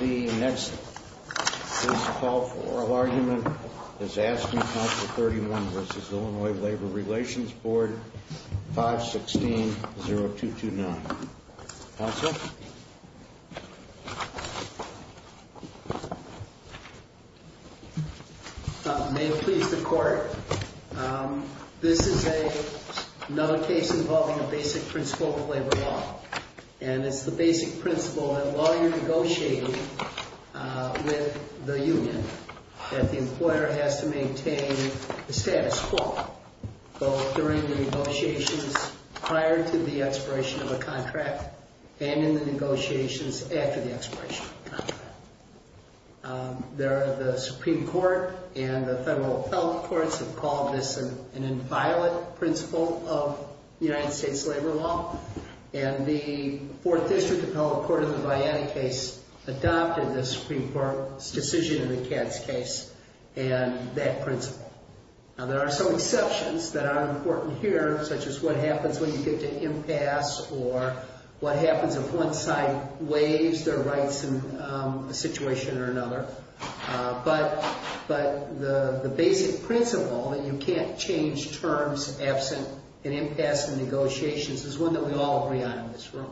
The next case to call for oral argument is ASSCME, Council 31 v. IL Labor Relations Board, 516.0229. Council? May it please the Court, this is another case involving a basic principle of labor law. And it's the basic principle that while you're negotiating with the union, that the employer has to maintain the status quo. Both during the negotiations prior to the expiration of a contract and in the negotiations after the expiration of a contract. There are the Supreme Court and the federal health courts have called this an inviolate principle of United States labor law. And the Fourth District Appellate Court in the Vianney case adopted the Supreme Court's decision in the Katz case and that principle. Now there are some exceptions that are important here, such as what happens when you get to impasse or what happens if one side waives their rights in a situation or another. But the basic principle that you can't change terms absent an impasse in negotiations is one that we all agree on in this room.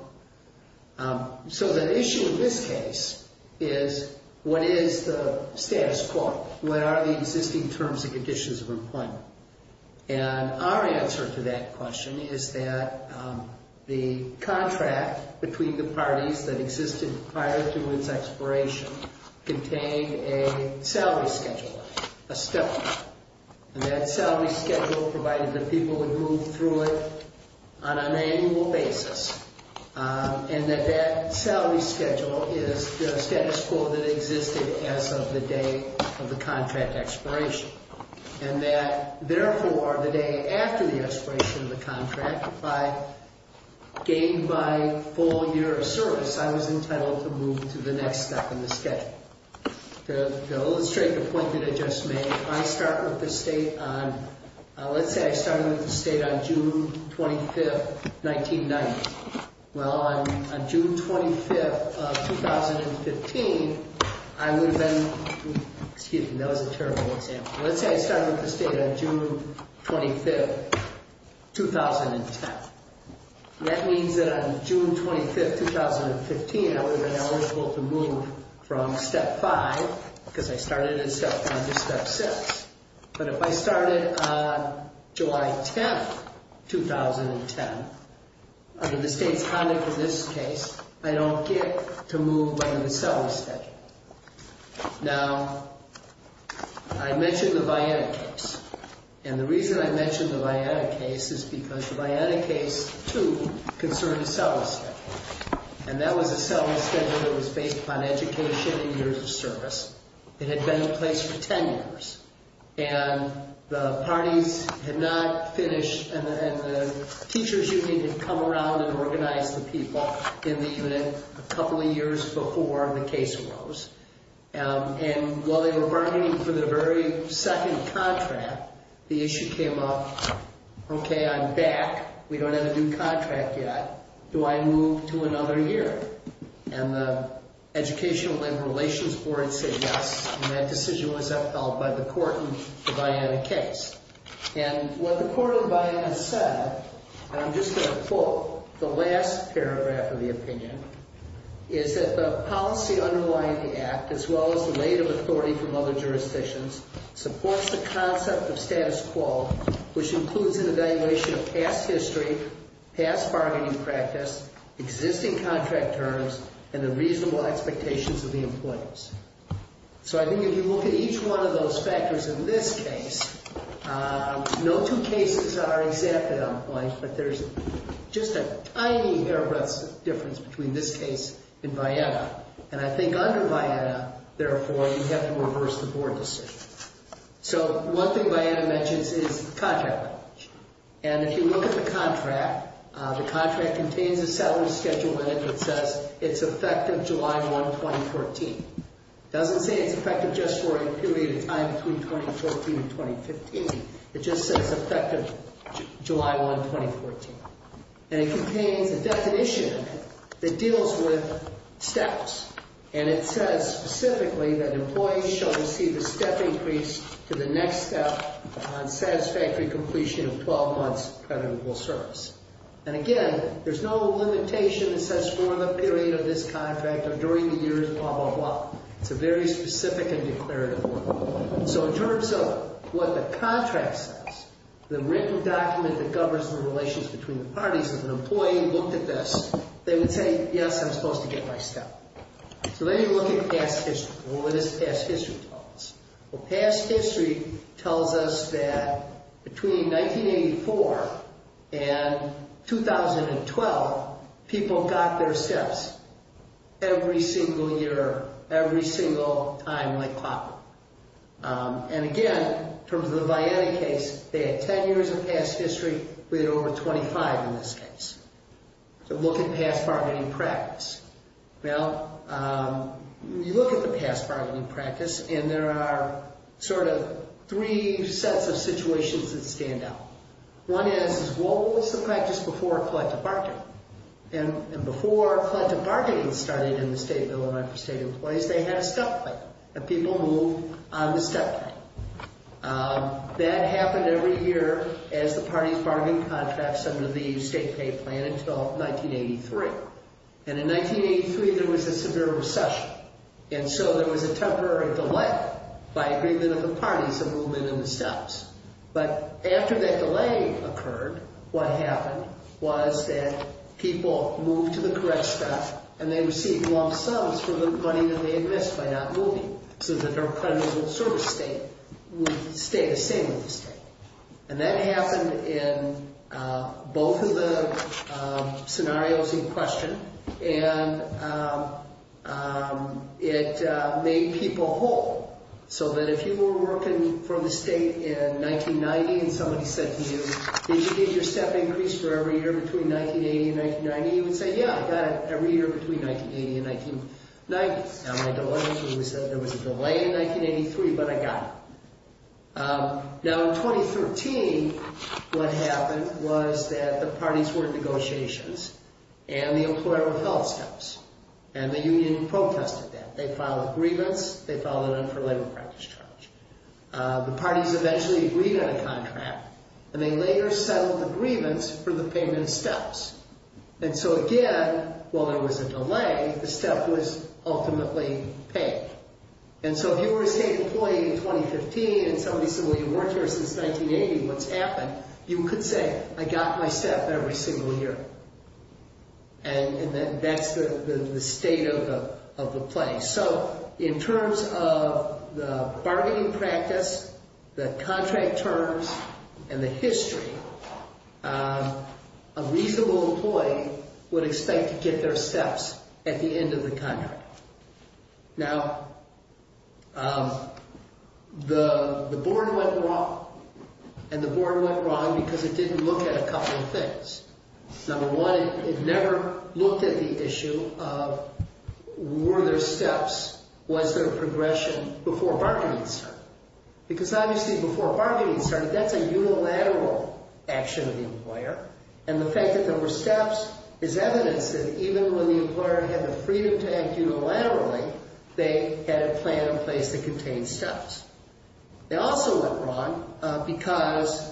So the issue in this case is what is the status quo? What are the existing terms and conditions of employment? And our answer to that question is that the contract between the parties that existed prior to its expiration contained a salary schedule, a stipend. And that salary schedule provided that people would move through it on an annual basis. And that that salary schedule is the status quo that existed as of the day of the contract expiration. And that, therefore, the day after the expiration of the contract, if I gained my full year of service, I was entitled to move to the next step in the schedule. To illustrate the point that I just made, if I start with the state on, let's say I started with the state on June 25th, 1990. Well, on June 25th of 2015, I would have been, excuse me, that was a terrible example. Let's say I started with the state on June 25th, 2010. That means that on June 25th, 2015, I would have been eligible to move from step five, because I started in step five, to step six. But if I started on July 10th, 2010, under the state's conduct in this case, I don't get to move under the salary schedule. Now, I mentioned the Vianna case. And the reason I mentioned the Vianna case is because the Vianna case, too, concerned a salary schedule. And that was a salary schedule that was based upon education and years of service. It had been in place for 10 years. And the parties had not finished, and the teachers union had come around and organized the people in the unit a couple of years before the case arose. And while they were bargaining for the very second contract, the issue came up, okay, I'm back. We don't have a new contract yet. Do I move to another year? And the Educational Labor Relations Board said yes, and that decision was upheld by the court in the Vianna case. And what the court of Vianna said, and I'm just going to quote the last paragraph of the opinion, is that the policy underlying the act, as well as the weight of authority from other jurisdictions, supports the concept of status quo, which includes an evaluation of past history, and a review of the statute. Past history, past bargaining practice, existing contract terms, and the reasonable expectations of the employees. So I think if you look at each one of those factors in this case, no two cases are exacted on points, but there's just a tiny airbrush difference between this case and Vianna. And I think under Vianna, therefore, you have to reverse the board decision. So one thing Vianna mentions is contract leverage. And if you look at the contract, the contract contains a salary schedule in it that says it's effective July 1, 2014. It doesn't say it's effective just for a period of time between 2014 and 2015. It just says effective July 1, 2014. And it contains a definition that deals with steps. And it says specifically that employees shall receive a step increase to the next step on satisfactory completion of 12 months of creditable service. And again, there's no limitation that says for the period of this contract or during the years, blah, blah, blah. It's a very specific and declarative one. So in terms of what the contract says, the written document that governs the relations between the parties, if an employee looked at this, they would say, yes, I'm supposed to get my step. So then you look at past history. What does past history tell us? Well, past history tells us that between 1984 and 2012, people got their steps every single year, every single time like clockwork. And again, in terms of the Vianney case, they had 10 years of past history. We had over 25 in this case. So look at past bargaining practice. Well, you look at the past bargaining practice, and there are sort of three sets of situations that stand out. One is, what was the practice before collective bargaining? And before collective bargaining started in the State Bill of Rights for State Employees, they had a step plan that people moved on the step plan. That happened every year as the parties bargained contracts under the state pay plan until 1983. And in 1983, there was a severe recession. And so there was a temporary delay by agreement of the parties to move in on the steps. But after that delay occurred, what happened was that people moved to the correct step, and they received lump sums for the money that they had missed by not moving, so that their credible service state would stay the same with the state. And that happened in both of the scenarios in question, and it made people whole. So that if you were working for the state in 1990 and somebody said to you, did you get your step increased for every year between 1980 and 1990, you would say, yeah, I got it every year between 1980 and 1990. Now, my delay was that there was a delay in 1983, but I got it. Now, in 2013, what happened was that the parties were in negotiations, and the employer withheld steps. And the union protested that. They filed agreements. They filed an unfulfilled labor practice charge. The parties eventually agreed on a contract, and they later settled the grievance for the payment of steps. And so again, while there was a delay, the step was ultimately paid. And so if you were a state employee in 2015 and somebody said, well, you weren't here since 1980, what's happened, you could say, I got my step every single year. And that's the state of the play. So in terms of the bargaining practice, the contract terms, and the history, a reasonable employee would expect to get their steps at the end of the contract. Now, the board went wrong, and the board went wrong because it didn't look at a couple of things. Number one, it never looked at the issue of were there steps, was there a progression before bargaining started? Because obviously before bargaining started, that's a unilateral action of the employer. And the fact that there were steps is evidence that even when the employer had the freedom to act unilaterally, they had a plan in place that contained steps. They also went wrong because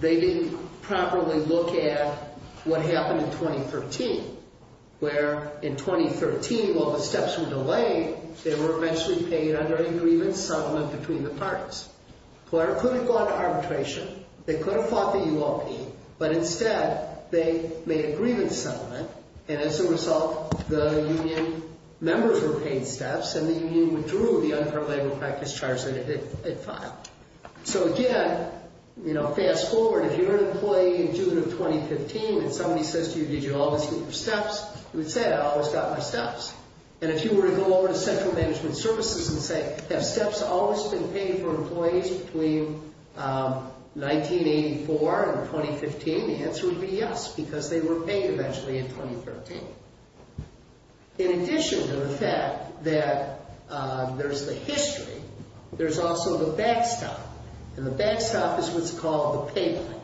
they didn't properly look at what happened in 2013, where in 2013, while the steps were delayed, they were eventually paid under a grievance settlement between the parties. The employer could have gone to arbitration, they could have fought the UOP, but instead, they made a grievance settlement, and as a result, the union members were paid steps, and the union withdrew the unparalleled practice charge that it had filed. So again, fast forward, if you're an employee in June of 2015, and somebody says to you, did you always need your steps? You would say, I always got my steps. And if you were to go over to central management services and say, have steps always been paid for employees between 1984 and 2015? The answer would be yes, because they were paid eventually in 2013. In addition to the fact that there's the history, there's also the backstop, and the backstop is what's called the pay plan.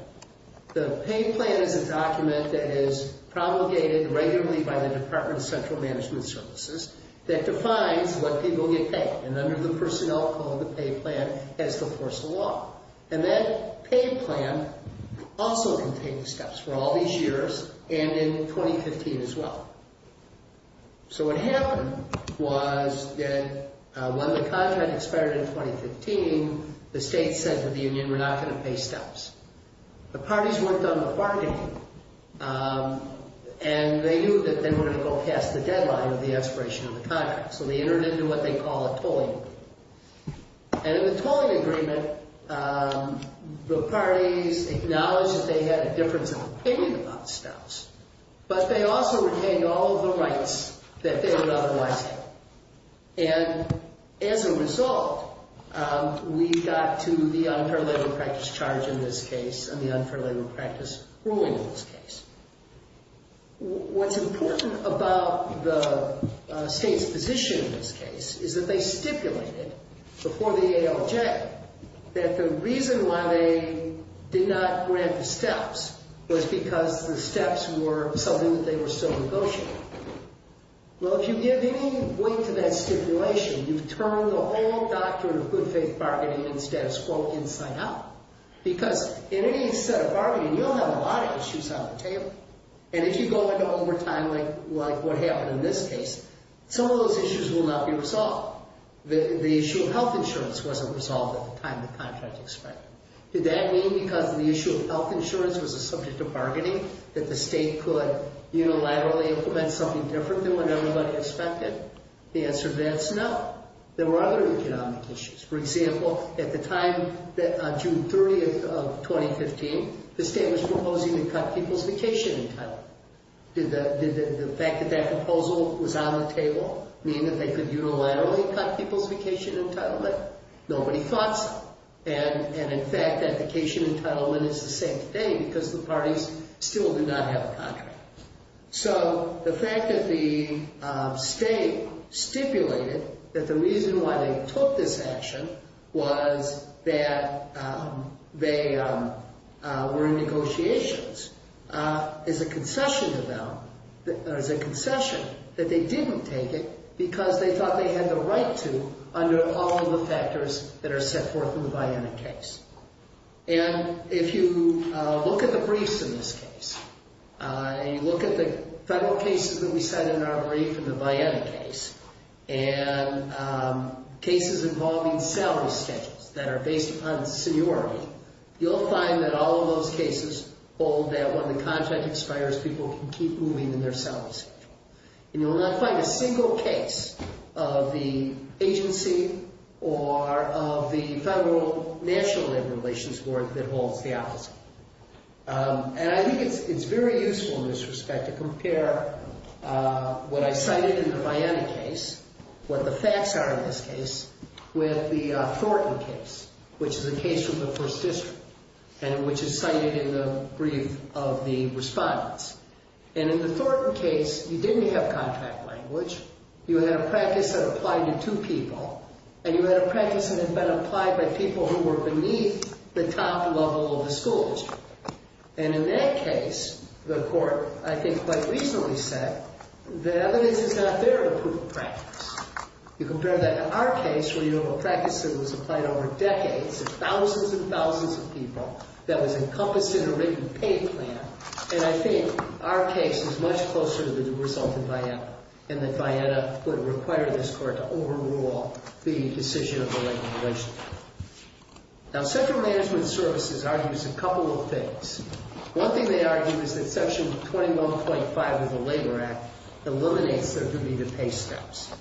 The pay plan is a document that is promulgated regularly by the Department of Central Management Services that defines what people get paid. And under the personnel code, the pay plan has the force of law. And that pay plan also contained steps for all these years, and in 2015 as well. So what happened was that when the contract expired in 2015, the state said to the union, we're not going to pay steps. The parties worked on the bargaining, and they knew that they were going to go past the deadline of the expiration of the contract. So they entered into what they call a tolling agreement. And in the tolling agreement, the parties acknowledged that they had a difference of opinion about steps, but they also retained all of the rights that they would otherwise have. And as a result, we got to the unfair labor practice charge in this case, and the unfair labor practice ruling in this case. What's important about the state's position in this case is that they stipulated before the ALJ that the reason why they did not grant the steps was because the steps were something that they were still negotiating. Well, if you give any weight to that stipulation, you've turned the whole doctrine of good faith bargaining and status quo inside out. Because in any set of bargaining, you'll have a lot of issues on the table. And if you go into overtime like what happened in this case, some of those issues will not be resolved. The issue of health insurance wasn't resolved at the time the contract expired. Did that mean because the issue of health insurance was a subject of bargaining that the state could unilaterally implement something different than what everybody expected? The answer to that is no. There were other economic issues. For example, at the time, June 30th of 2015, the state was proposing to cut people's vacation entitlement. Did the fact that that proposal was on the table mean that they could unilaterally cut people's vacation entitlement? Nobody thought so. And, in fact, that vacation entitlement is the same today because the parties still do not have a contract. So the fact that the state stipulated that the reason why they took this action was that they were in negotiations is a concession to them, or is a concession that they didn't take it because they thought they had the right to under all of the factors that are set forth in the Biden case. And if you look at the briefs in this case, and you look at the federal cases that we said in our brief in the Biden case, and cases involving salary schedules that are based upon seniority, you'll find that all of those cases hold that when the contract expires, people can keep moving in their salary schedules. And you will not find a single case of the agency or of the Federal National Labor Relations Board that holds the opposite. And I think it's very useful in this respect to compare what I cited in the Biden case, what the facts are in this case, with the Thornton case, which is a case from the First District, and which is cited in the brief of the respondents. And in the Thornton case, you didn't have contract language. You had a practice that applied to two people. And you had a practice that had been applied by people who were beneath the top level of the school district. And in that case, the court, I think, quite reasonably said that evidence is not there to prove a practice. You compare that to our case where you have a practice that was applied over decades to thousands and thousands of people that was encompassed in a written pay plan. And I think our case is much closer to the result in Vietta and that Vietta would require this court to overrule the decision of the Labor Relations Board. Now, Central Management Services argues a couple of things. One thing they argue is that Section 21.5 of the Labor Act eliminates the need to pay steps.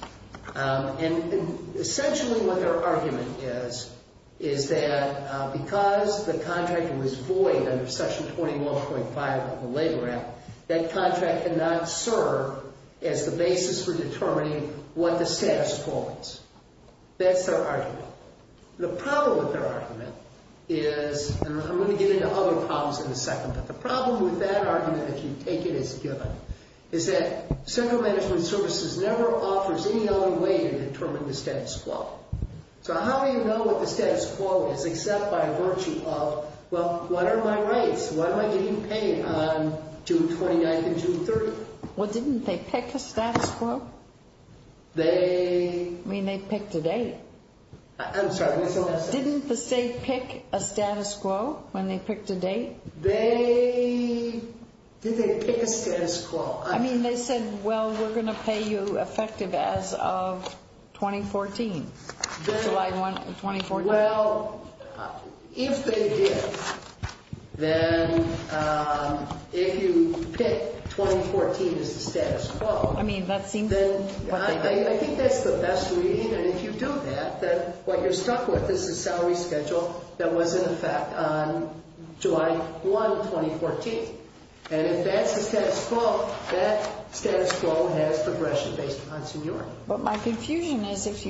And essentially what their argument is, is that because the contract was void under Section 21.5 of the Labor Act, that contract did not serve as the basis for determining what the status quo is. That's their argument. The problem with their argument is, and I'm going to get into other problems in a second, but the problem with that argument, if you take it as a given, is that Central Management Services never offers any other way to determine the status quo. So how do you know what the status quo is except by virtue of, well, what are my rights? Why am I getting paid on June 29th and June 30th? Well, didn't they pick a status quo? They... I mean, they picked a date. I'm sorry. Didn't the state pick a status quo when they picked a date? They... Did they pick a status quo? I mean, they said, well, we're going to pay you effective as of 2014. July 1, 2014. Well, if they did, then if you pick 2014 as the status quo... I mean, that seems... I think that's the best we need. And if you do that, then what you're stuck with is the salary schedule that was in effect on July 1, 2014. And if that's the status quo, that status quo has progression based upon seniority. But my confusion is if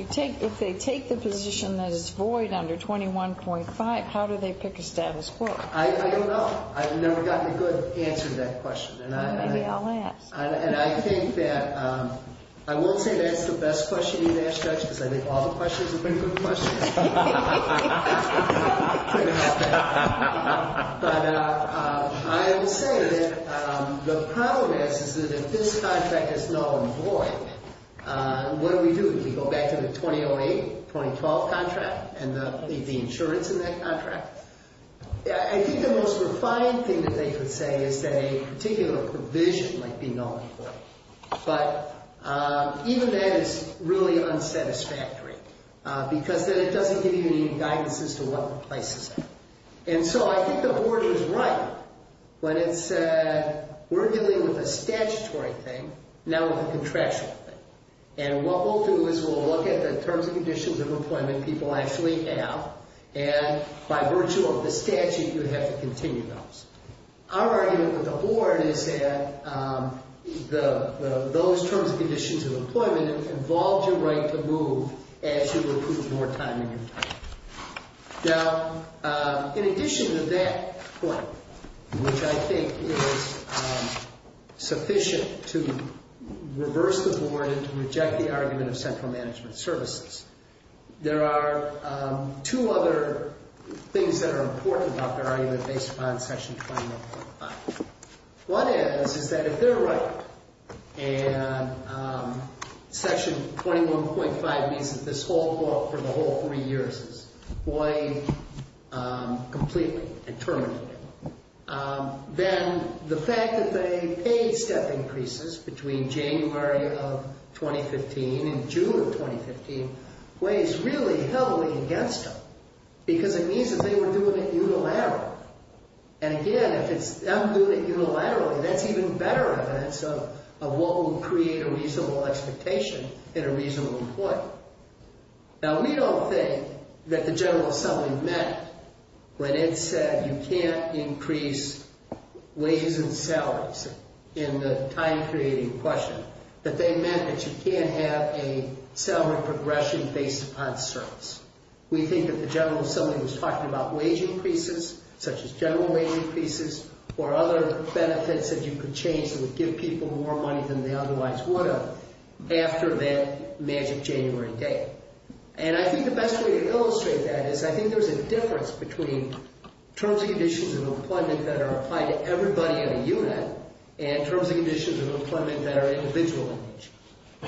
they take the position that it's void under 21.5, how do they pick a status quo? I don't know. I've never gotten a good answer to that question. Maybe I'll ask. And I think that... I won't say that's the best question you'd ask, Judge, because I think all the questions have been good questions. But I will say that the problem is that if this contract is null and void, what do we do? Do we go back to the 2008-2012 contract and leave the insurance in that contract? I think the most refined thing that they could say is that a particular provision might be null and void. But even that is really unsatisfactory because then it doesn't give you any guidance as to what replaces it. And so I think the board was right when it said we're dealing with a statutory thing, not with a contractual thing. And what we'll do is we'll look at the terms and conditions of employment people actually have. And by virtue of the statute, you have to continue those. Our argument with the board is that those terms and conditions of employment involve your right to move as you recoup more time in your time. Now, in addition to that point, which I think is sufficient to reverse the board and to reject the argument of central management services, there are two other things that are important about their argument based upon Section 21.5. One is, is that if they're right and Section 21.5 means that this whole book for the whole three years is void completely and terminated, then the fact that they paid step increases between January of 2015 and June of 2015 weighs really heavily against them because it means that they were doing it unilaterally. And again, if it's them doing it unilaterally, that's even better evidence of what would create a reasonable expectation in a reasonable employment. Now, we don't think that the General Assembly meant when it said you can't increase wages and salaries in the time-creating question, that they meant that you can't have a salary progression based upon service. We think that the General Assembly was talking about wage increases, such as general wage increases, or other benefits that you could change that would give people more money than they otherwise would have after that magic January day. And I think the best way to illustrate that is I think there's a difference between terms and conditions of employment that are applied to everybody in a unit and terms and conditions of employment that are individual.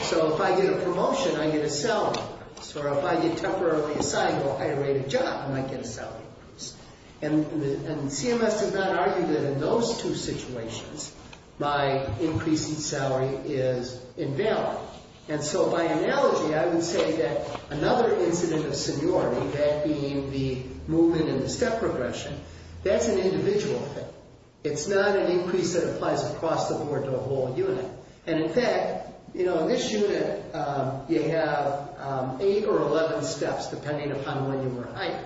So if I get a promotion, I get a salary increase. Or if I get temporarily assigned to a higher-rated job, I might get a salary increase. And CMS does not argue that in those two situations, my increase in salary is invalid. And so by analogy, I would say that another incident of seniority, that being the movement and the step progression, that's an individual thing. It's not an increase that applies across the board to a whole unit. And in fact, you know, in this unit, you have 8 or 11 steps, depending upon when you were hired.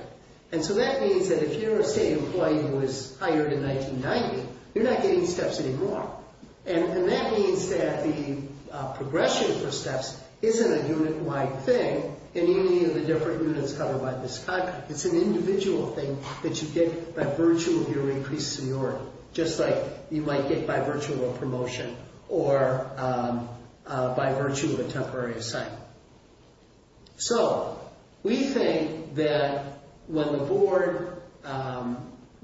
And so that means that if you're a state employee who was hired in 1990, you're not getting steps anymore. And that means that the progression for steps isn't a unit-wide thing in any of the different units covered by this document. It's an individual thing that you get by virtue of your increased seniority, just like you might get by virtue of a promotion or by virtue of a temporary assignment. So we think that when the board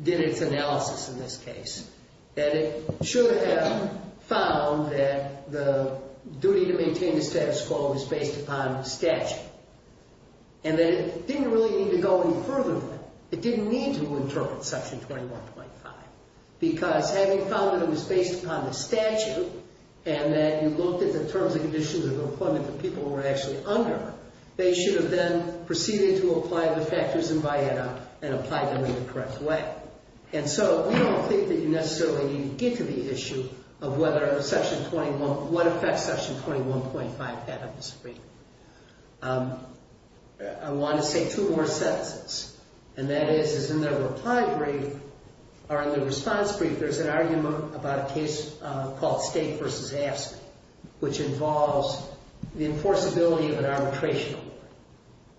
did its analysis in this case, that it should have found that the duty to maintain the status quo was based upon statute. And that it didn't really need to go any further than that. It didn't need to interpret Section 21.5. Because having found that it was based upon the statute and that you looked at the terms and conditions of employment that people were actually under, they should have then proceeded to apply the factors in VIETA and applied them in the correct way. And so we don't think that you necessarily need to get to the issue of what affects Section 21.5. I want to say two more sentences. And that is, is in the reply brief, or in the response brief, there's an argument about a case called State v. AFSCME, which involves the enforceability of an arbitration award.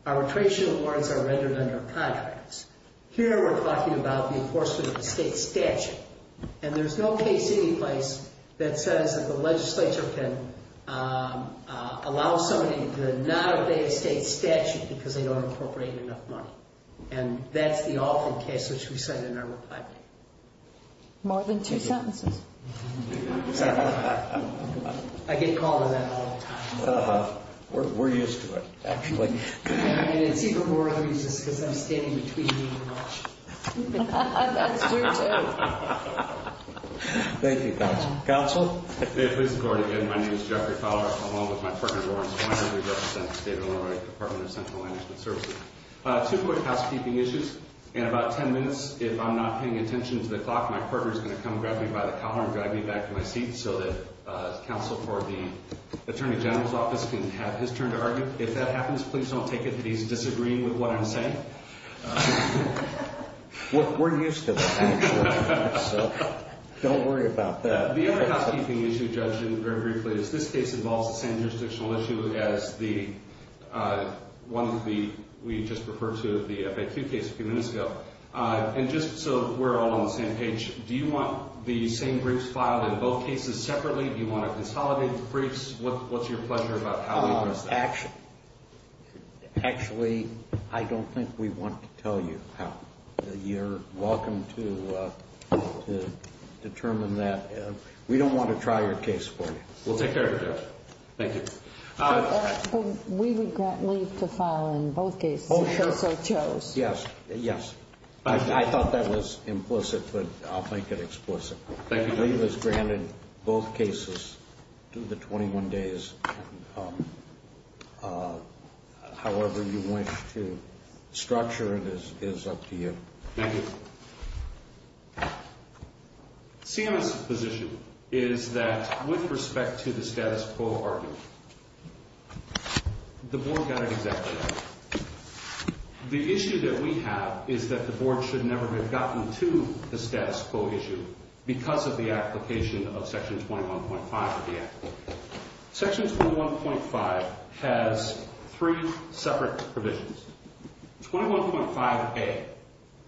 Arbitration awards are rendered under contracts. Here we're talking about the enforcement of a state statute. And there's no case anyplace that says that the legislature can allow somebody to not obey a state statute because they don't incorporate enough money. And that's the often case which we cite in our reply brief. More than two sentences. Sorry. I get called on that all the time. We're used to it, actually. And it's even more obvious just because I'm standing between you and Marcia. That's true, too. Thank you, Counsel. Counsel? May it please the Court. Again, my name is Jeffrey Fowler, along with my partner, Lawrence Weiner. We represent the State of Illinois Department of Central Management Services. Two quick housekeeping issues. In about 10 minutes, if I'm not paying attention to the clock, my partner is going to come grab me by the collar and drag me back to my seat so that Counsel for the Attorney General's Office can have his turn to argue. If that happens, please don't take it that he's disagreeing with what I'm saying. We're used to that, actually. Don't worry about that. The other housekeeping issue, Judge, very briefly, is this case involves the same jurisdictional issue as the one we just referred to, the FAQ case a few minutes ago. And just so we're all on the same page, do you want the same briefs filed in both cases separately? Do you want to consolidate the briefs? What's your pleasure about how we address that? Actually, I don't think we want to tell you how. You're welcome to determine that. We don't want to try your case for you. We'll take care of it, Judge. Thank you. We would grant leave to file in both cases if so chose. Yes, yes. I thought that was implicit, but I'll make it explicit. Thank you. The statute has granted both cases to the 21 days. However you wish to structure it is up to you. Thank you. CMS's position is that with respect to the status quo argument, the board got it exactly right. The issue that we have is that the board should never have gotten to the status quo issue because of the application of Section 21.5 of the Act. Section 21.5 has three separate provisions. 21.5a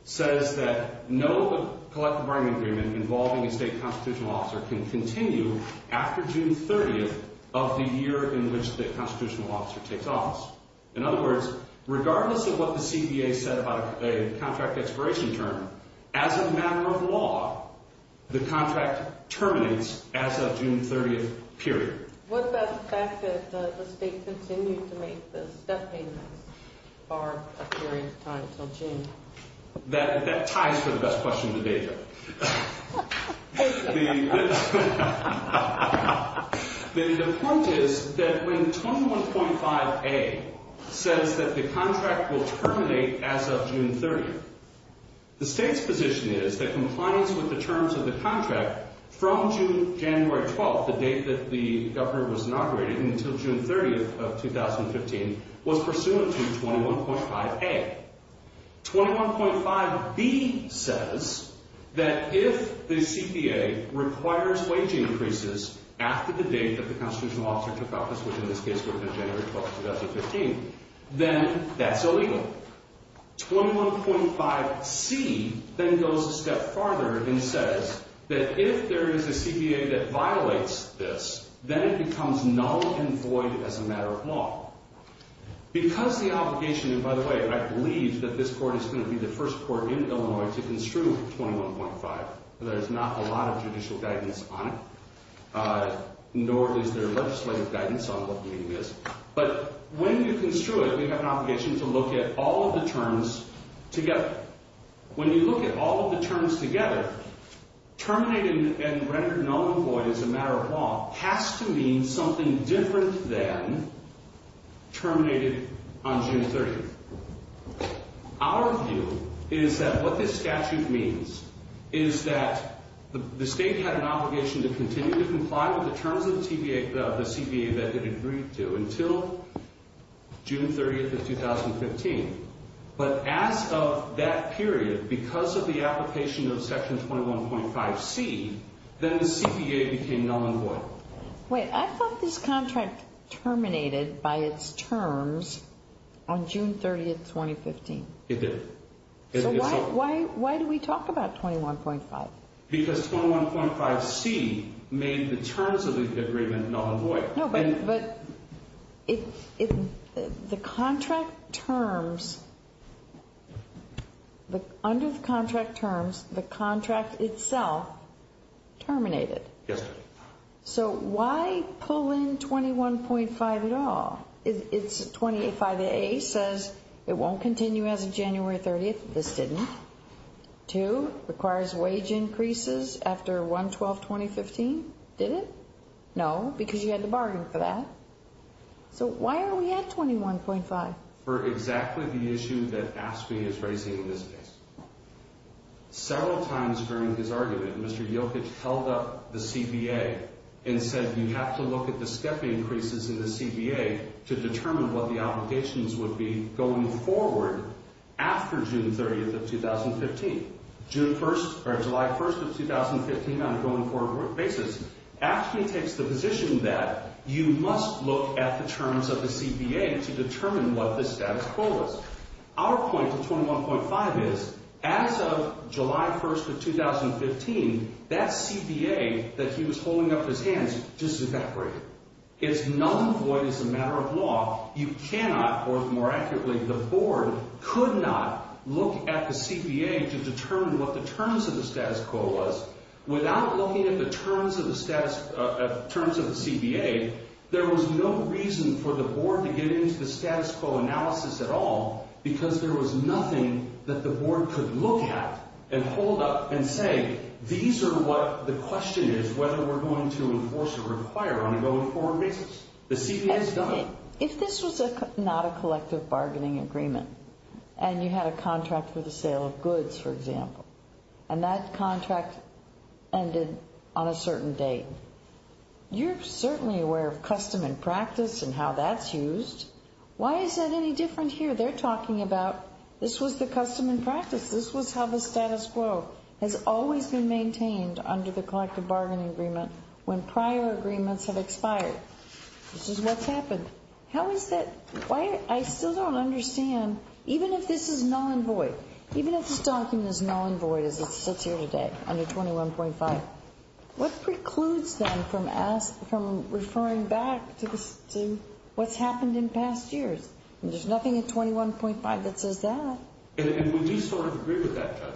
says that no collective bargaining agreement involving a state constitutional officer can continue after June 30th of the year in which the constitutional officer takes office. In other words, regardless of what the CBA said about a contract expiration term, as a matter of law, the contract terminates as of June 30th period. What about the fact that the state continued to make the step payments for a period of time until June? That ties for the best question of the day, Judge. The point is that when 21.5a says that the contract will terminate as of June 30th, the state's position is that compliance with the terms of the contract from January 12th, the date that the governor was inaugurated until June 30th of 2015, was pursuant to 21.5a. 21.5b says that if the CBA requires wage increases after the date that the constitutional officer took office, which in this case would have been January 12th, 2015, then that's illegal. 21.5c then goes a step farther and says that if there is a CBA that violates this, then it becomes null and void as a matter of law. Because the obligation, and by the way, I believe that this court is going to be the first court in Illinois to construe 21.5. There's not a lot of judicial guidance on it, nor is there legislative guidance on what the meaning is. But when you construe it, we have an obligation to look at all of the terms together. When you look at all of the terms together, terminating and rendering null and void as a matter of law has to mean something different than terminated on June 30th. Our view is that what this statute means is that the state had an obligation to continue to comply with the terms of the CBA that it agreed to until June 30th of 2015. But as of that period, because of the application of Section 21.5c, then the CBA became null and void. Wait, I thought this contract terminated by its terms on June 30th, 2015. It did. So why do we talk about 21.5? Because 21.5c made the terms of the agreement null and void. No, but the contract terms, under the contract terms, the contract itself terminated. Yes, ma'am. So why pull in 21.5 at all? It's 25a says it won't continue as of January 30th. This didn't. Two, requires wage increases after 1-12-2015. Did it? No, because you had to bargain for that. So why are we at 21.5? For exactly the issue that AFSCME is raising in this case. Several times during his argument, Mr. Jokic held up the CBA and said you have to look at the step increases in the CBA to determine what the obligations would be going forward after June 30th of 2015. June 1st, or July 1st of 2015 on a going forward basis. AFSCME takes the position that you must look at the terms of the CBA to determine what the status quo is. Our point to 21.5 is as of July 1st of 2015, that CBA that he was holding up his hands just evaporated. It's null and void as a matter of law. You cannot, or more accurately, the board could not look at the CBA to determine what the terms of the status quo was without looking at the terms of the CBA. There was no reason for the board to get into the status quo analysis at all because there was nothing that the board could look at and hold up and say these are what the question is whether we're going to enforce or require on a going forward basis. The CBA has done it. If this was not a collective bargaining agreement and you had a contract for the sale of goods, for example, and that contract ended on a certain date, you're certainly aware of custom and practice and how that's used. Why is that any different here? They're talking about this was the custom and practice. This was how the status quo has always been maintained under the collective bargaining agreement when prior agreements have expired. This is what's happened. How is that? I still don't understand. Even if this is null and void, even if this document is null and void as it sits here today under 21.5, what precludes them from referring back to what's happened in past years? There's nothing in 21.5 that says that. And we do sort of agree with that, Judge.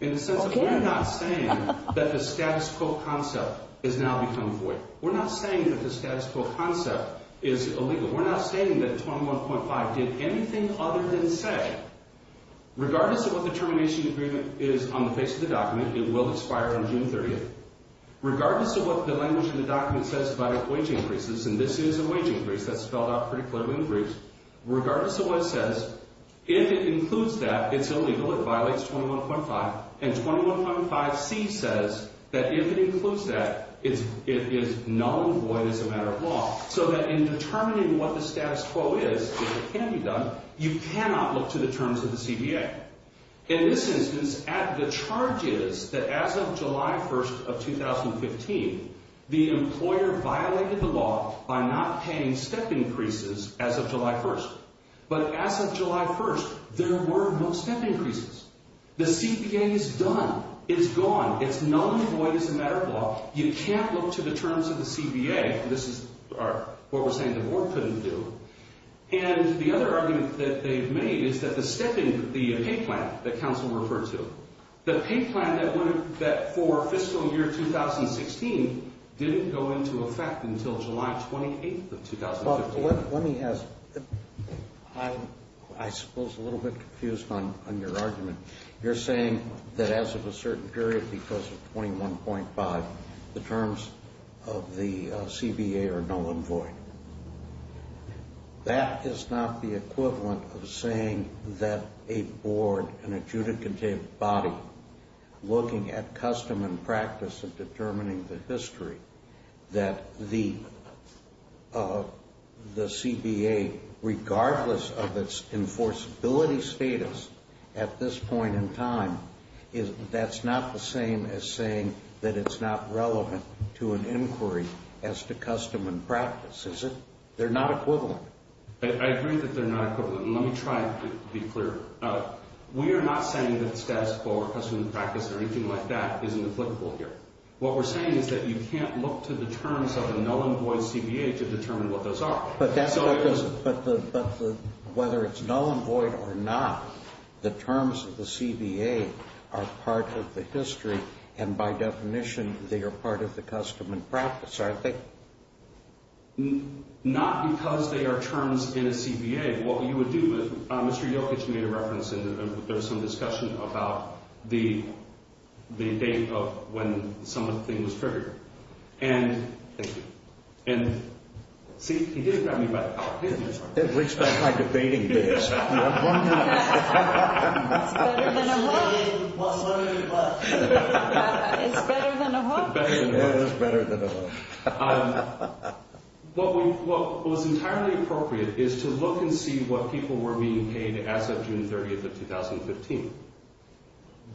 In the sense that we're not saying that the status quo concept has now become void. We're not saying that the status quo concept is illegal. We're not saying that 21.5 did anything other than say, regardless of what the termination agreement is on the face of the document, it will expire on June 30th, regardless of what the language in the document says about wage increases, and this is a wage increase. That's spelled out pretty clearly in the briefs. If it includes that, it's illegal. It violates 21.5. And 21.5C says that if it includes that, it is null and void as a matter of law, so that in determining what the status quo is, if it can be done, you cannot look to the terms of the CBA. In this instance, the charge is that as of July 1st of 2015, the employer violated the law by not paying step increases as of July 1st. But as of July 1st, there were no step increases. The CBA is done. It's gone. It's null and void as a matter of law. You can't look to the terms of the CBA. This is what we're saying the board couldn't do. And the other argument that they've made is that the step in the pay plan that counsel referred to, the pay plan that for fiscal year 2016 didn't go into effect until July 28th of 2015. Let me ask, I suppose I'm a little bit confused on your argument. You're saying that as of a certain period because of 21.5, the terms of the CBA are null and void. That is not the equivalent of saying that a board, an adjudicative body, looking at custom and practice of determining the history, that the CBA, regardless of its enforceability status at this point in time, that's not the same as saying that it's not relevant to an inquiry as to custom and practice, is it? They're not equivalent. I agree that they're not equivalent. Let me try to be clear. We are not saying that the status quo or custom and practice or anything like that isn't applicable here. What we're saying is that you can't look to the terms of a null and void CBA to determine what those are. But whether it's null and void or not, the terms of the CBA are part of the history, and by definition, they are part of the custom and practice, aren't they? Not because they are terms in a CBA. What you would do, Mr. Yokich, you made a reference, and there was some discussion about the date of when something was triggered. Thank you. See, he did grab me by the collar. At least I'm not debating this. Why not? It's better than a hook. Sorry, what? It's better than a hook. It's not better than a hook. It is better than a hook. What was entirely appropriate is to look and see what people were being paid as of June 30th of 2015.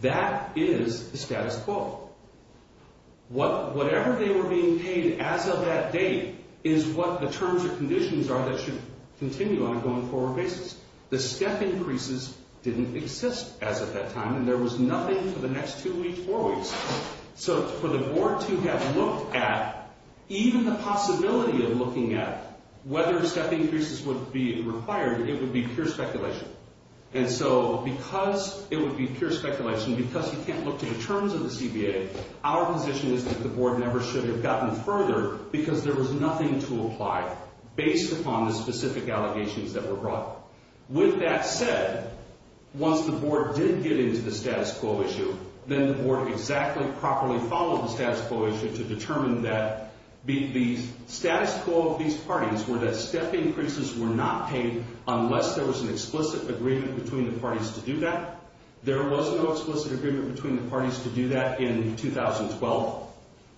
That is the status quo. Whatever they were being paid as of that date is what the terms or conditions are that should continue on a going forward basis. The step increases didn't exist as of that time, and there was nothing for the next two weeks, four weeks. So for the board to have looked at even the possibility of looking at whether step increases would be required, it would be pure speculation. And so because it would be pure speculation, because you can't look to the terms of the CBA, our position is that the board never should have gotten further because there was nothing to apply based upon the specific allegations that were brought. With that said, once the board did get into the status quo issue, then the board exactly properly followed the status quo issue to determine that the status quo of these parties were that step increases were not paid unless there was an explicit agreement between the parties to do that. There was no explicit agreement between the parties to do that in 2012.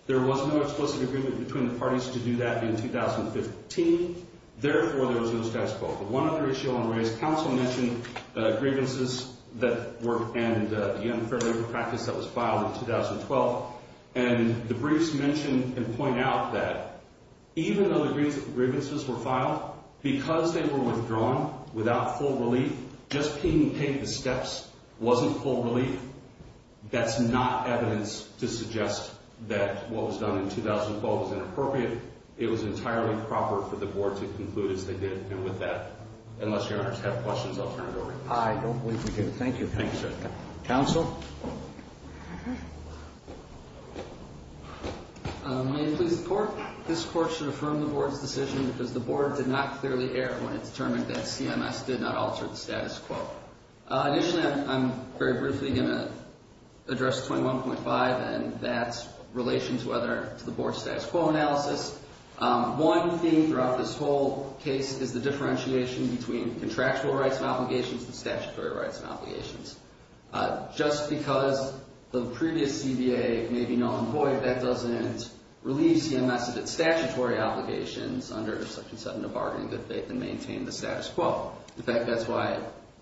There was no explicit agreement between the parties to do that in 2015. Therefore, there was no status quo. The one other issue I want to raise, counsel mentioned the grievances that were, and the unfair labor practice that was filed in 2012. And the briefs mention and point out that even though the grievances were filed, because they were withdrawn without full relief, just being paid the steps wasn't full relief, that's not evidence to suggest that what was done in 2012 was inappropriate. It was entirely proper for the board to conclude as they did. And with that, unless your honors have questions, I'll turn it over to you. I don't believe we do. Thank you. Thank you, sir. Counsel? May it please the court? This court should affirm the board's decision because the board did not clearly err when it determined that CMS did not alter the status quo. Initially, I'm very briefly going to address 21.5, and that's in relation to the board's status quo analysis. One thing throughout this whole case is the differentiation between contractual rights and obligations and statutory rights and obligations. Just because the previous CBA may be null and void, that doesn't relieve CMS of its statutory obligations under Section 7 of Bargaining Good Faith and Maintain the Status Quo. In fact, that's why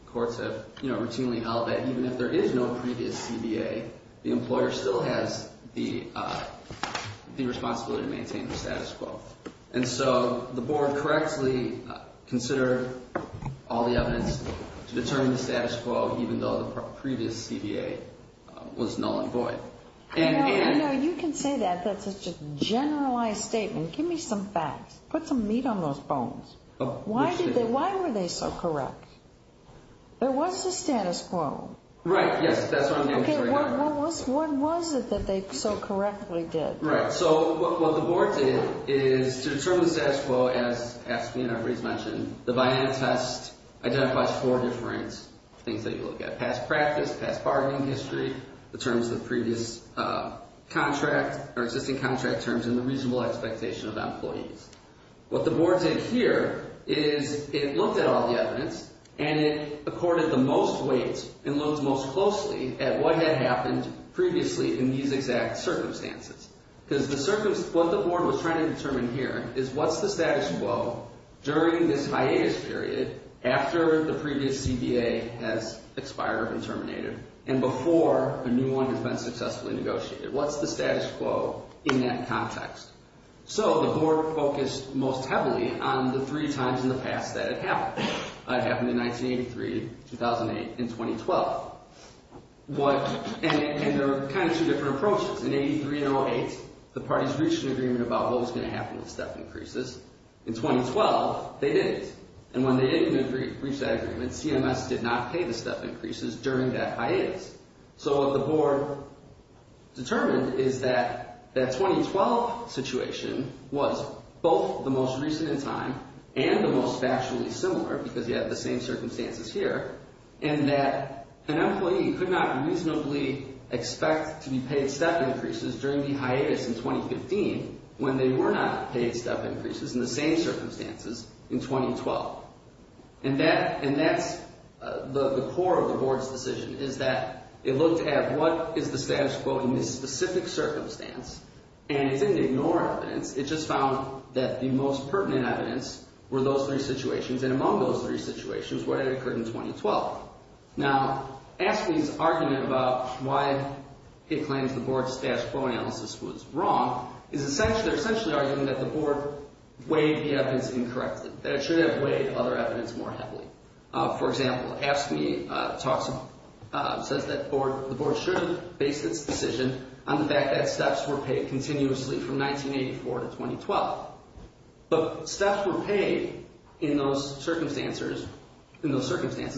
courts have routinely held that even if there is no previous CBA, the employer still has the responsibility to maintain the status quo. And so the board correctly considered all the evidence to determine the status quo, even though the previous CBA was null and void. No, you can say that. That's just a generalized statement. Give me some facts. Put some meat on those bones. Why were they so correct? There was a status quo. Right, yes. That's what I'm going to show you now. Okay, what was it that they so correctly did? Right, so what the board did is to determine the status quo, as Ashley and everybody's mentioned, the Vianna test identifies four different things that you look at. Past practice, past bargaining history, the terms of the previous contract or existing contract terms, and the reasonable expectation of employees. What the board did here is it looked at all the evidence and it accorded the most weight and looked most closely at what had happened previously in these exact circumstances. Because what the board was trying to determine here is what's the status quo during this hiatus period after the previous CBA has expired and terminated and before a new one has been successfully negotiated. What's the status quo in that context? So the board focused most heavily on the three times in the past that it happened. It happened in 1983, 2008, and 2012. And there were kind of two different approaches. In 83 and 08, the parties reached an agreement about what was going to happen with step increases. In 2012, they didn't. And when they didn't reach that agreement, CMS did not pay the step increases during that hiatus. So what the board determined is that that 2012 situation was both the most recent in time and the most factually similar because you have the same circumstances here. And that an employee could not reasonably expect to be paid step increases during the hiatus in 2015 when they were not paid step increases in the same circumstances in 2012. And that's the core of the board's decision is that it looked at what is the status quo in this specific circumstance. And it didn't ignore evidence. It just found that the most pertinent evidence were those three situations. And among those three situations, what had occurred in 2012? Now, AFSCME's argument about why it claims the board's status quo analysis was wrong is essentially arguing that the board weighed the evidence incorrectly. That it should have weighed other evidence more heavily. For example, AFSCME says that the board should base its decision on the fact that steps were paid continuously from 1984 to 2012. But steps were paid in those circumstances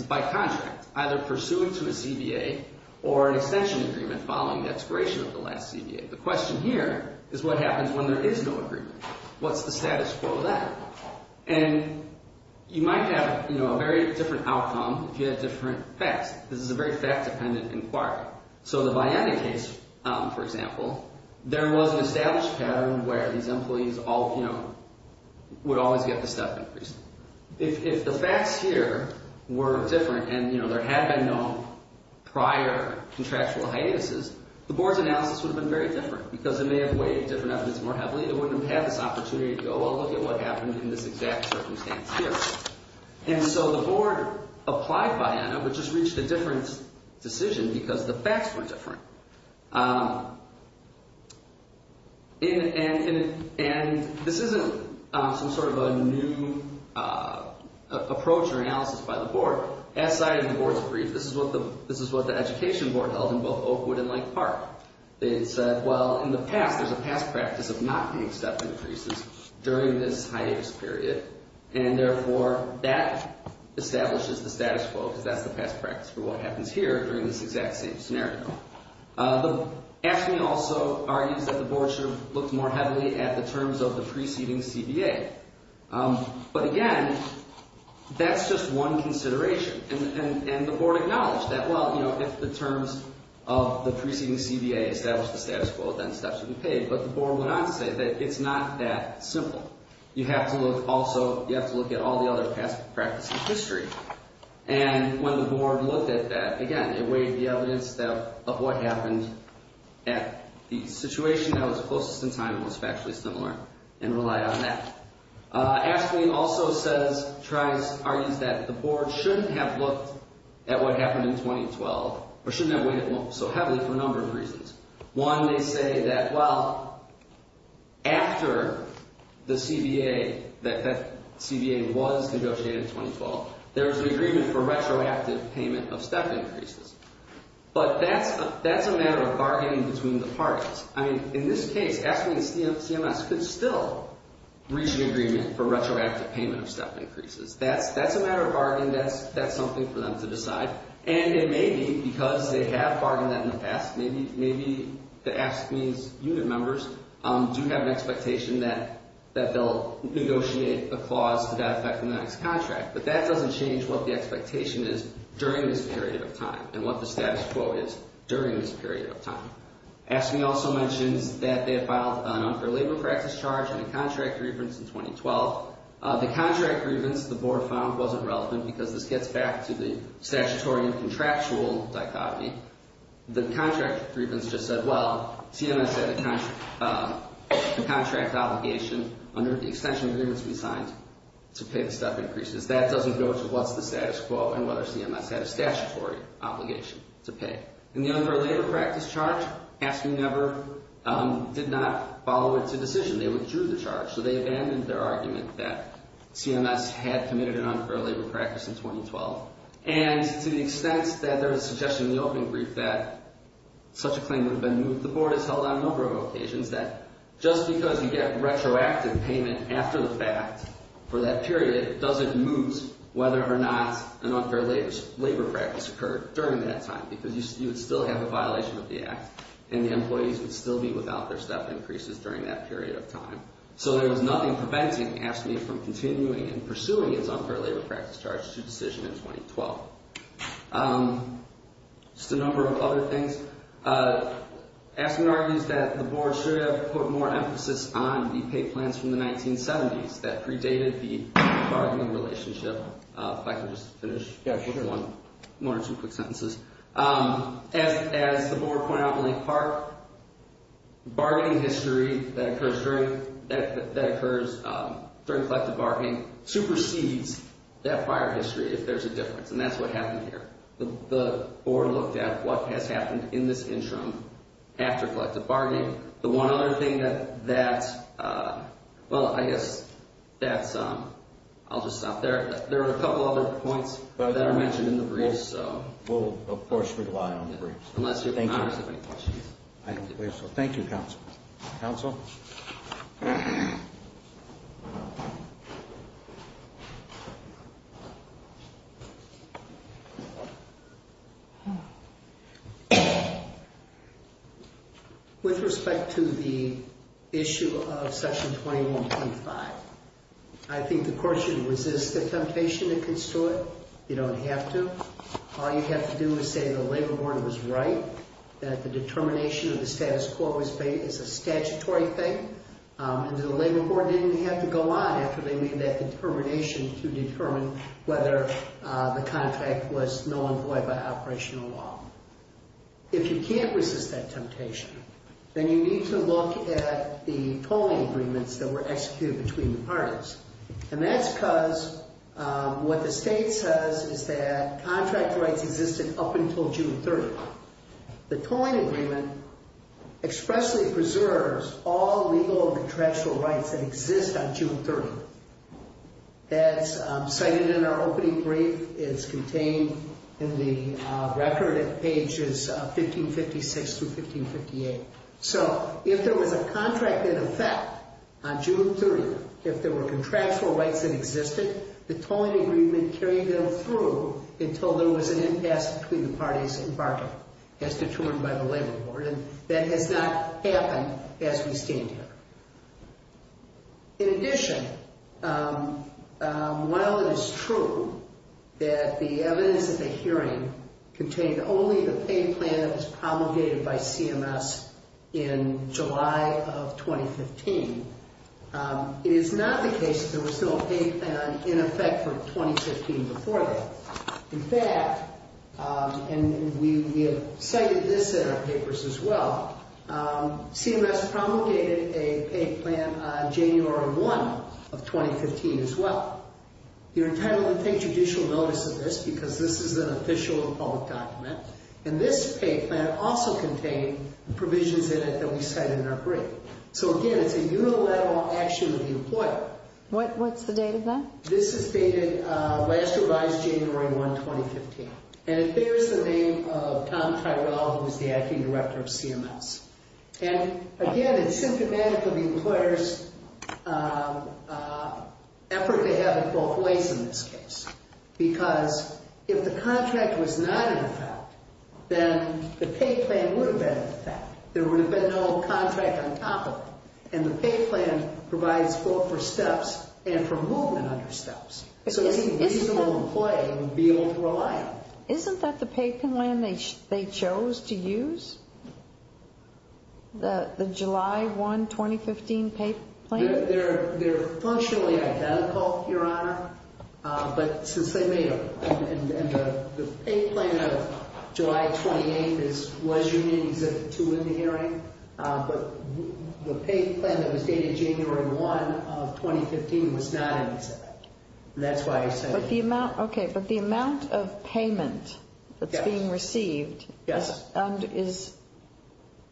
by contract, either pursuant to a CBA or an extension agreement following the expiration of the last CBA. The question here is what happens when there is no agreement? What's the status quo then? And you might have, you know, a very different outcome if you had different facts. This is a very fact-dependent inquiry. So the Vianney case, for example, there was an established pattern where these employees all, you know, would always get the step increase. If the facts here were different and, you know, there had been no prior contractual hiatuses, the board's analysis would have been very different. Because it may have weighed different evidence more heavily. It wouldn't have had this opportunity to go, well, look at what happened in this exact circumstance here. And so the board applied Vianney, which has reached a different decision because the facts were different. And this isn't some sort of a new approach or analysis by the board. As cited in the board's brief, this is what the education board held in both Oakwood and Lake Park. They said, well, in the past, there's a past practice of not being step increases during this hiatus period. And therefore, that establishes the status quo because that's the past practice for what happens here during this exact same scenario. The action also argues that the board should have looked more heavily at the terms of the preceding CBA. But again, that's just one consideration. And the board acknowledged that, well, you know, if the terms of the preceding CBA establish the status quo, then steps should be paid. But the board went on to say that it's not that simple. You have to look also, you have to look at all the other past practices of history. And when the board looked at that, again, it weighed the evidence of what happened at the situation that was closest in time and was factually similar and relied on that. Ask Me also says, argues that the board shouldn't have looked at what happened in 2012 or shouldn't have weighed it so heavily for a number of reasons. One, they say that, well, after the CBA, that CBA was negotiated in 2012, there was an agreement for retroactive payment of step increases. But that's a matter of bargaining between the parties. I mean, in this case, Ask Me and CMS could still reach an agreement for retroactive payment of step increases. That's a matter of bargaining. That's something for them to decide. And it may be because they have bargained that in the past. Maybe the Ask Me's unit members do have an expectation that they'll negotiate a clause to that effect in the next contract. But that doesn't change what the expectation is during this period of time and what the status quo is during this period of time. Ask Me also mentions that they have filed an unfair labor practice charge and a contract grievance in 2012. The contract grievance, the board found, wasn't relevant because this gets back to the statutory and contractual dichotomy. The contract grievance just said, well, CMS had a contract obligation under the extension agreements we signed to pay the step increases. That doesn't go to what's the status quo and whether CMS had a statutory obligation to pay. And the unfair labor practice charge, Ask Me never did not follow it to decision. They withdrew the charge. So they abandoned their argument that CMS had committed an unfair labor practice in 2012. And to the extent that there was a suggestion in the opening brief that such a claim would have been moved, the board has held on a number of occasions that just because you get retroactive payment after the fact for that period doesn't move whether or not an unfair labor practice occurred during that time because you would still have a violation of the act and the employees would still be without their step increases during that period of time. So there was nothing preventing Ask Me from continuing and pursuing its unfair labor practice charge to decision in 2012. Just a number of other things. Ask Me argues that the board should have put more emphasis on the pay plans from the 1970s that predated the bargaining relationship. If I could just finish with one or two quick sentences. As the board pointed out in length part, bargaining history that occurs during collective bargaining supersedes that prior history if there's a difference. And that's what happened here. The board looked at what has happened in this interim after collective bargaining. The one other thing that, well, I guess that's, I'll just stop there. There are a couple other points that are mentioned in the briefs. We'll, of course, rely on the briefs. Thank you, counsel. Counsel? With respect to the issue of section 21.5, I think the court should resist the temptation to construe it. You don't have to. All you have to do is say the labor board was right, that the determination of the status quo is a statutory thing, and the labor board didn't have to go on after they made that determination to determine whether the contract was null and void by operational law. If you can't resist that temptation, then you need to look at the tolling agreements that were executed between the parties. And that's because what the state says is that contract rights existed up until June 30th. The tolling agreement expressly preserves all legal contractual rights that exist on June 30th. As cited in our opening brief, it's contained in the record at pages 1556 through 1558. So if there was a contract in effect on June 30th, if there were contractual rights that existed, the tolling agreement carried them through until there was an impasse between the parties and bargain as determined by the labor board. And that has not happened as we stand here. In addition, while it is true that the evidence at the hearing contained only the pay plan that was promulgated by CMS in July of 2015, it is not the case that there was no pay plan in effect for 2015 before that. In fact, and we have cited this in our papers as well, CMS promulgated a pay plan on January 1 of 2015 as well. You're entitled to take judicial notice of this because this is an official public document. And this pay plan also contained provisions in it that we cite in our brief. So again, it's a unilateral action of the employer. What's the date of that? This is dated last revised January 1, 2015. And it bears the name of Tom Tyrell, who's the acting director of CMS. And again, it's symptomatic of the employer's effort to have it both ways in this case. Because if the contract was not in effect, then the pay plan would have been in effect. There would have been no contract on top of it. And the pay plan provides support for steps and for movement under steps. So any reasonable employee would be able to rely on it. Isn't that the pay plan they chose to use? The July 1, 2015 pay plan? They're functionally identical, Your Honor. But since they made it, and the pay plan of July 28th was unique, except for two in the hearing. But the pay plan that was dated January 1 of 2015 was not in effect. And that's why I said it was not in effect. But the amount of payment that's being received is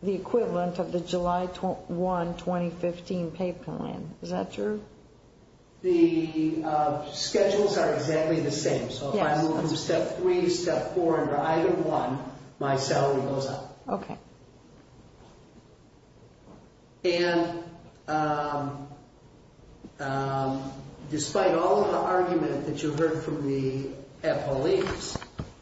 the equivalent of the July 1, 2015 pay plan. Is that true? The schedules are exactly the same. So if I move from step 3 to step 4 under item 1, my salary goes up. Okay. And despite all of the argument that you heard from the employees,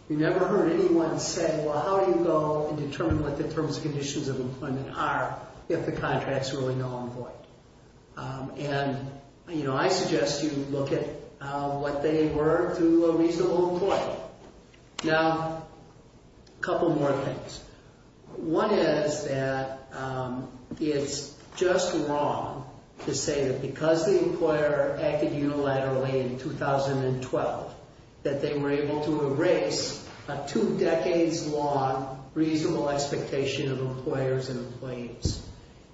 you never heard anyone say, well, how do you go and determine what the terms and conditions of employment are if the contract's really null and void? And, you know, I suggest you look at what they were to a reasonable employer. Now, a couple more things. One is that it's just wrong to say that because the employer acted unilaterally in 2012 that they were able to erase a two decades long reasonable expectation of employers and employees.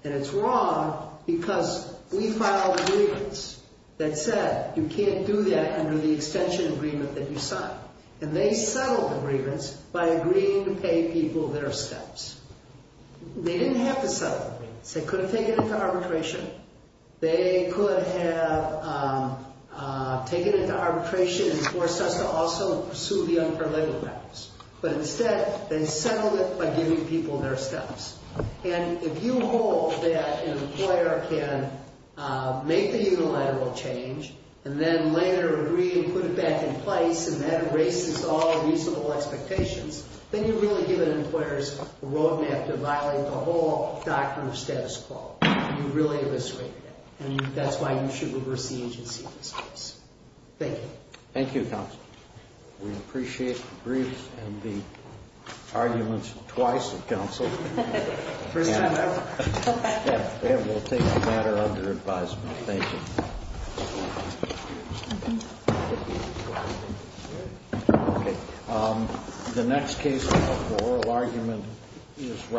And it's wrong because we filed agreements that said you can't do that under the extension agreement that you signed. And they settled the agreements by agreeing to pay people their steps. They didn't have to settle the agreements. They could have taken it to arbitration. They could have taken it to arbitration and forced us to also pursue the unpermitted practice. But instead, they settled it by giving people their steps. And if you hold that an employer can make the unilateral change and then later agree to put it back in place and that erases all the reasonable expectations, then you're really giving employers a roadmap to violate the whole doctrine of status quo. You really eviscerated it. And that's why you should reverse the agency in this case. Thank you. Thank you, Counsel. We appreciate the briefs and the arguments twice, Counsel. And we'll take the matter under advisement. Thank you. Thank you. Thank you. Thank you. Okay. The next case of the oral argument is Robert.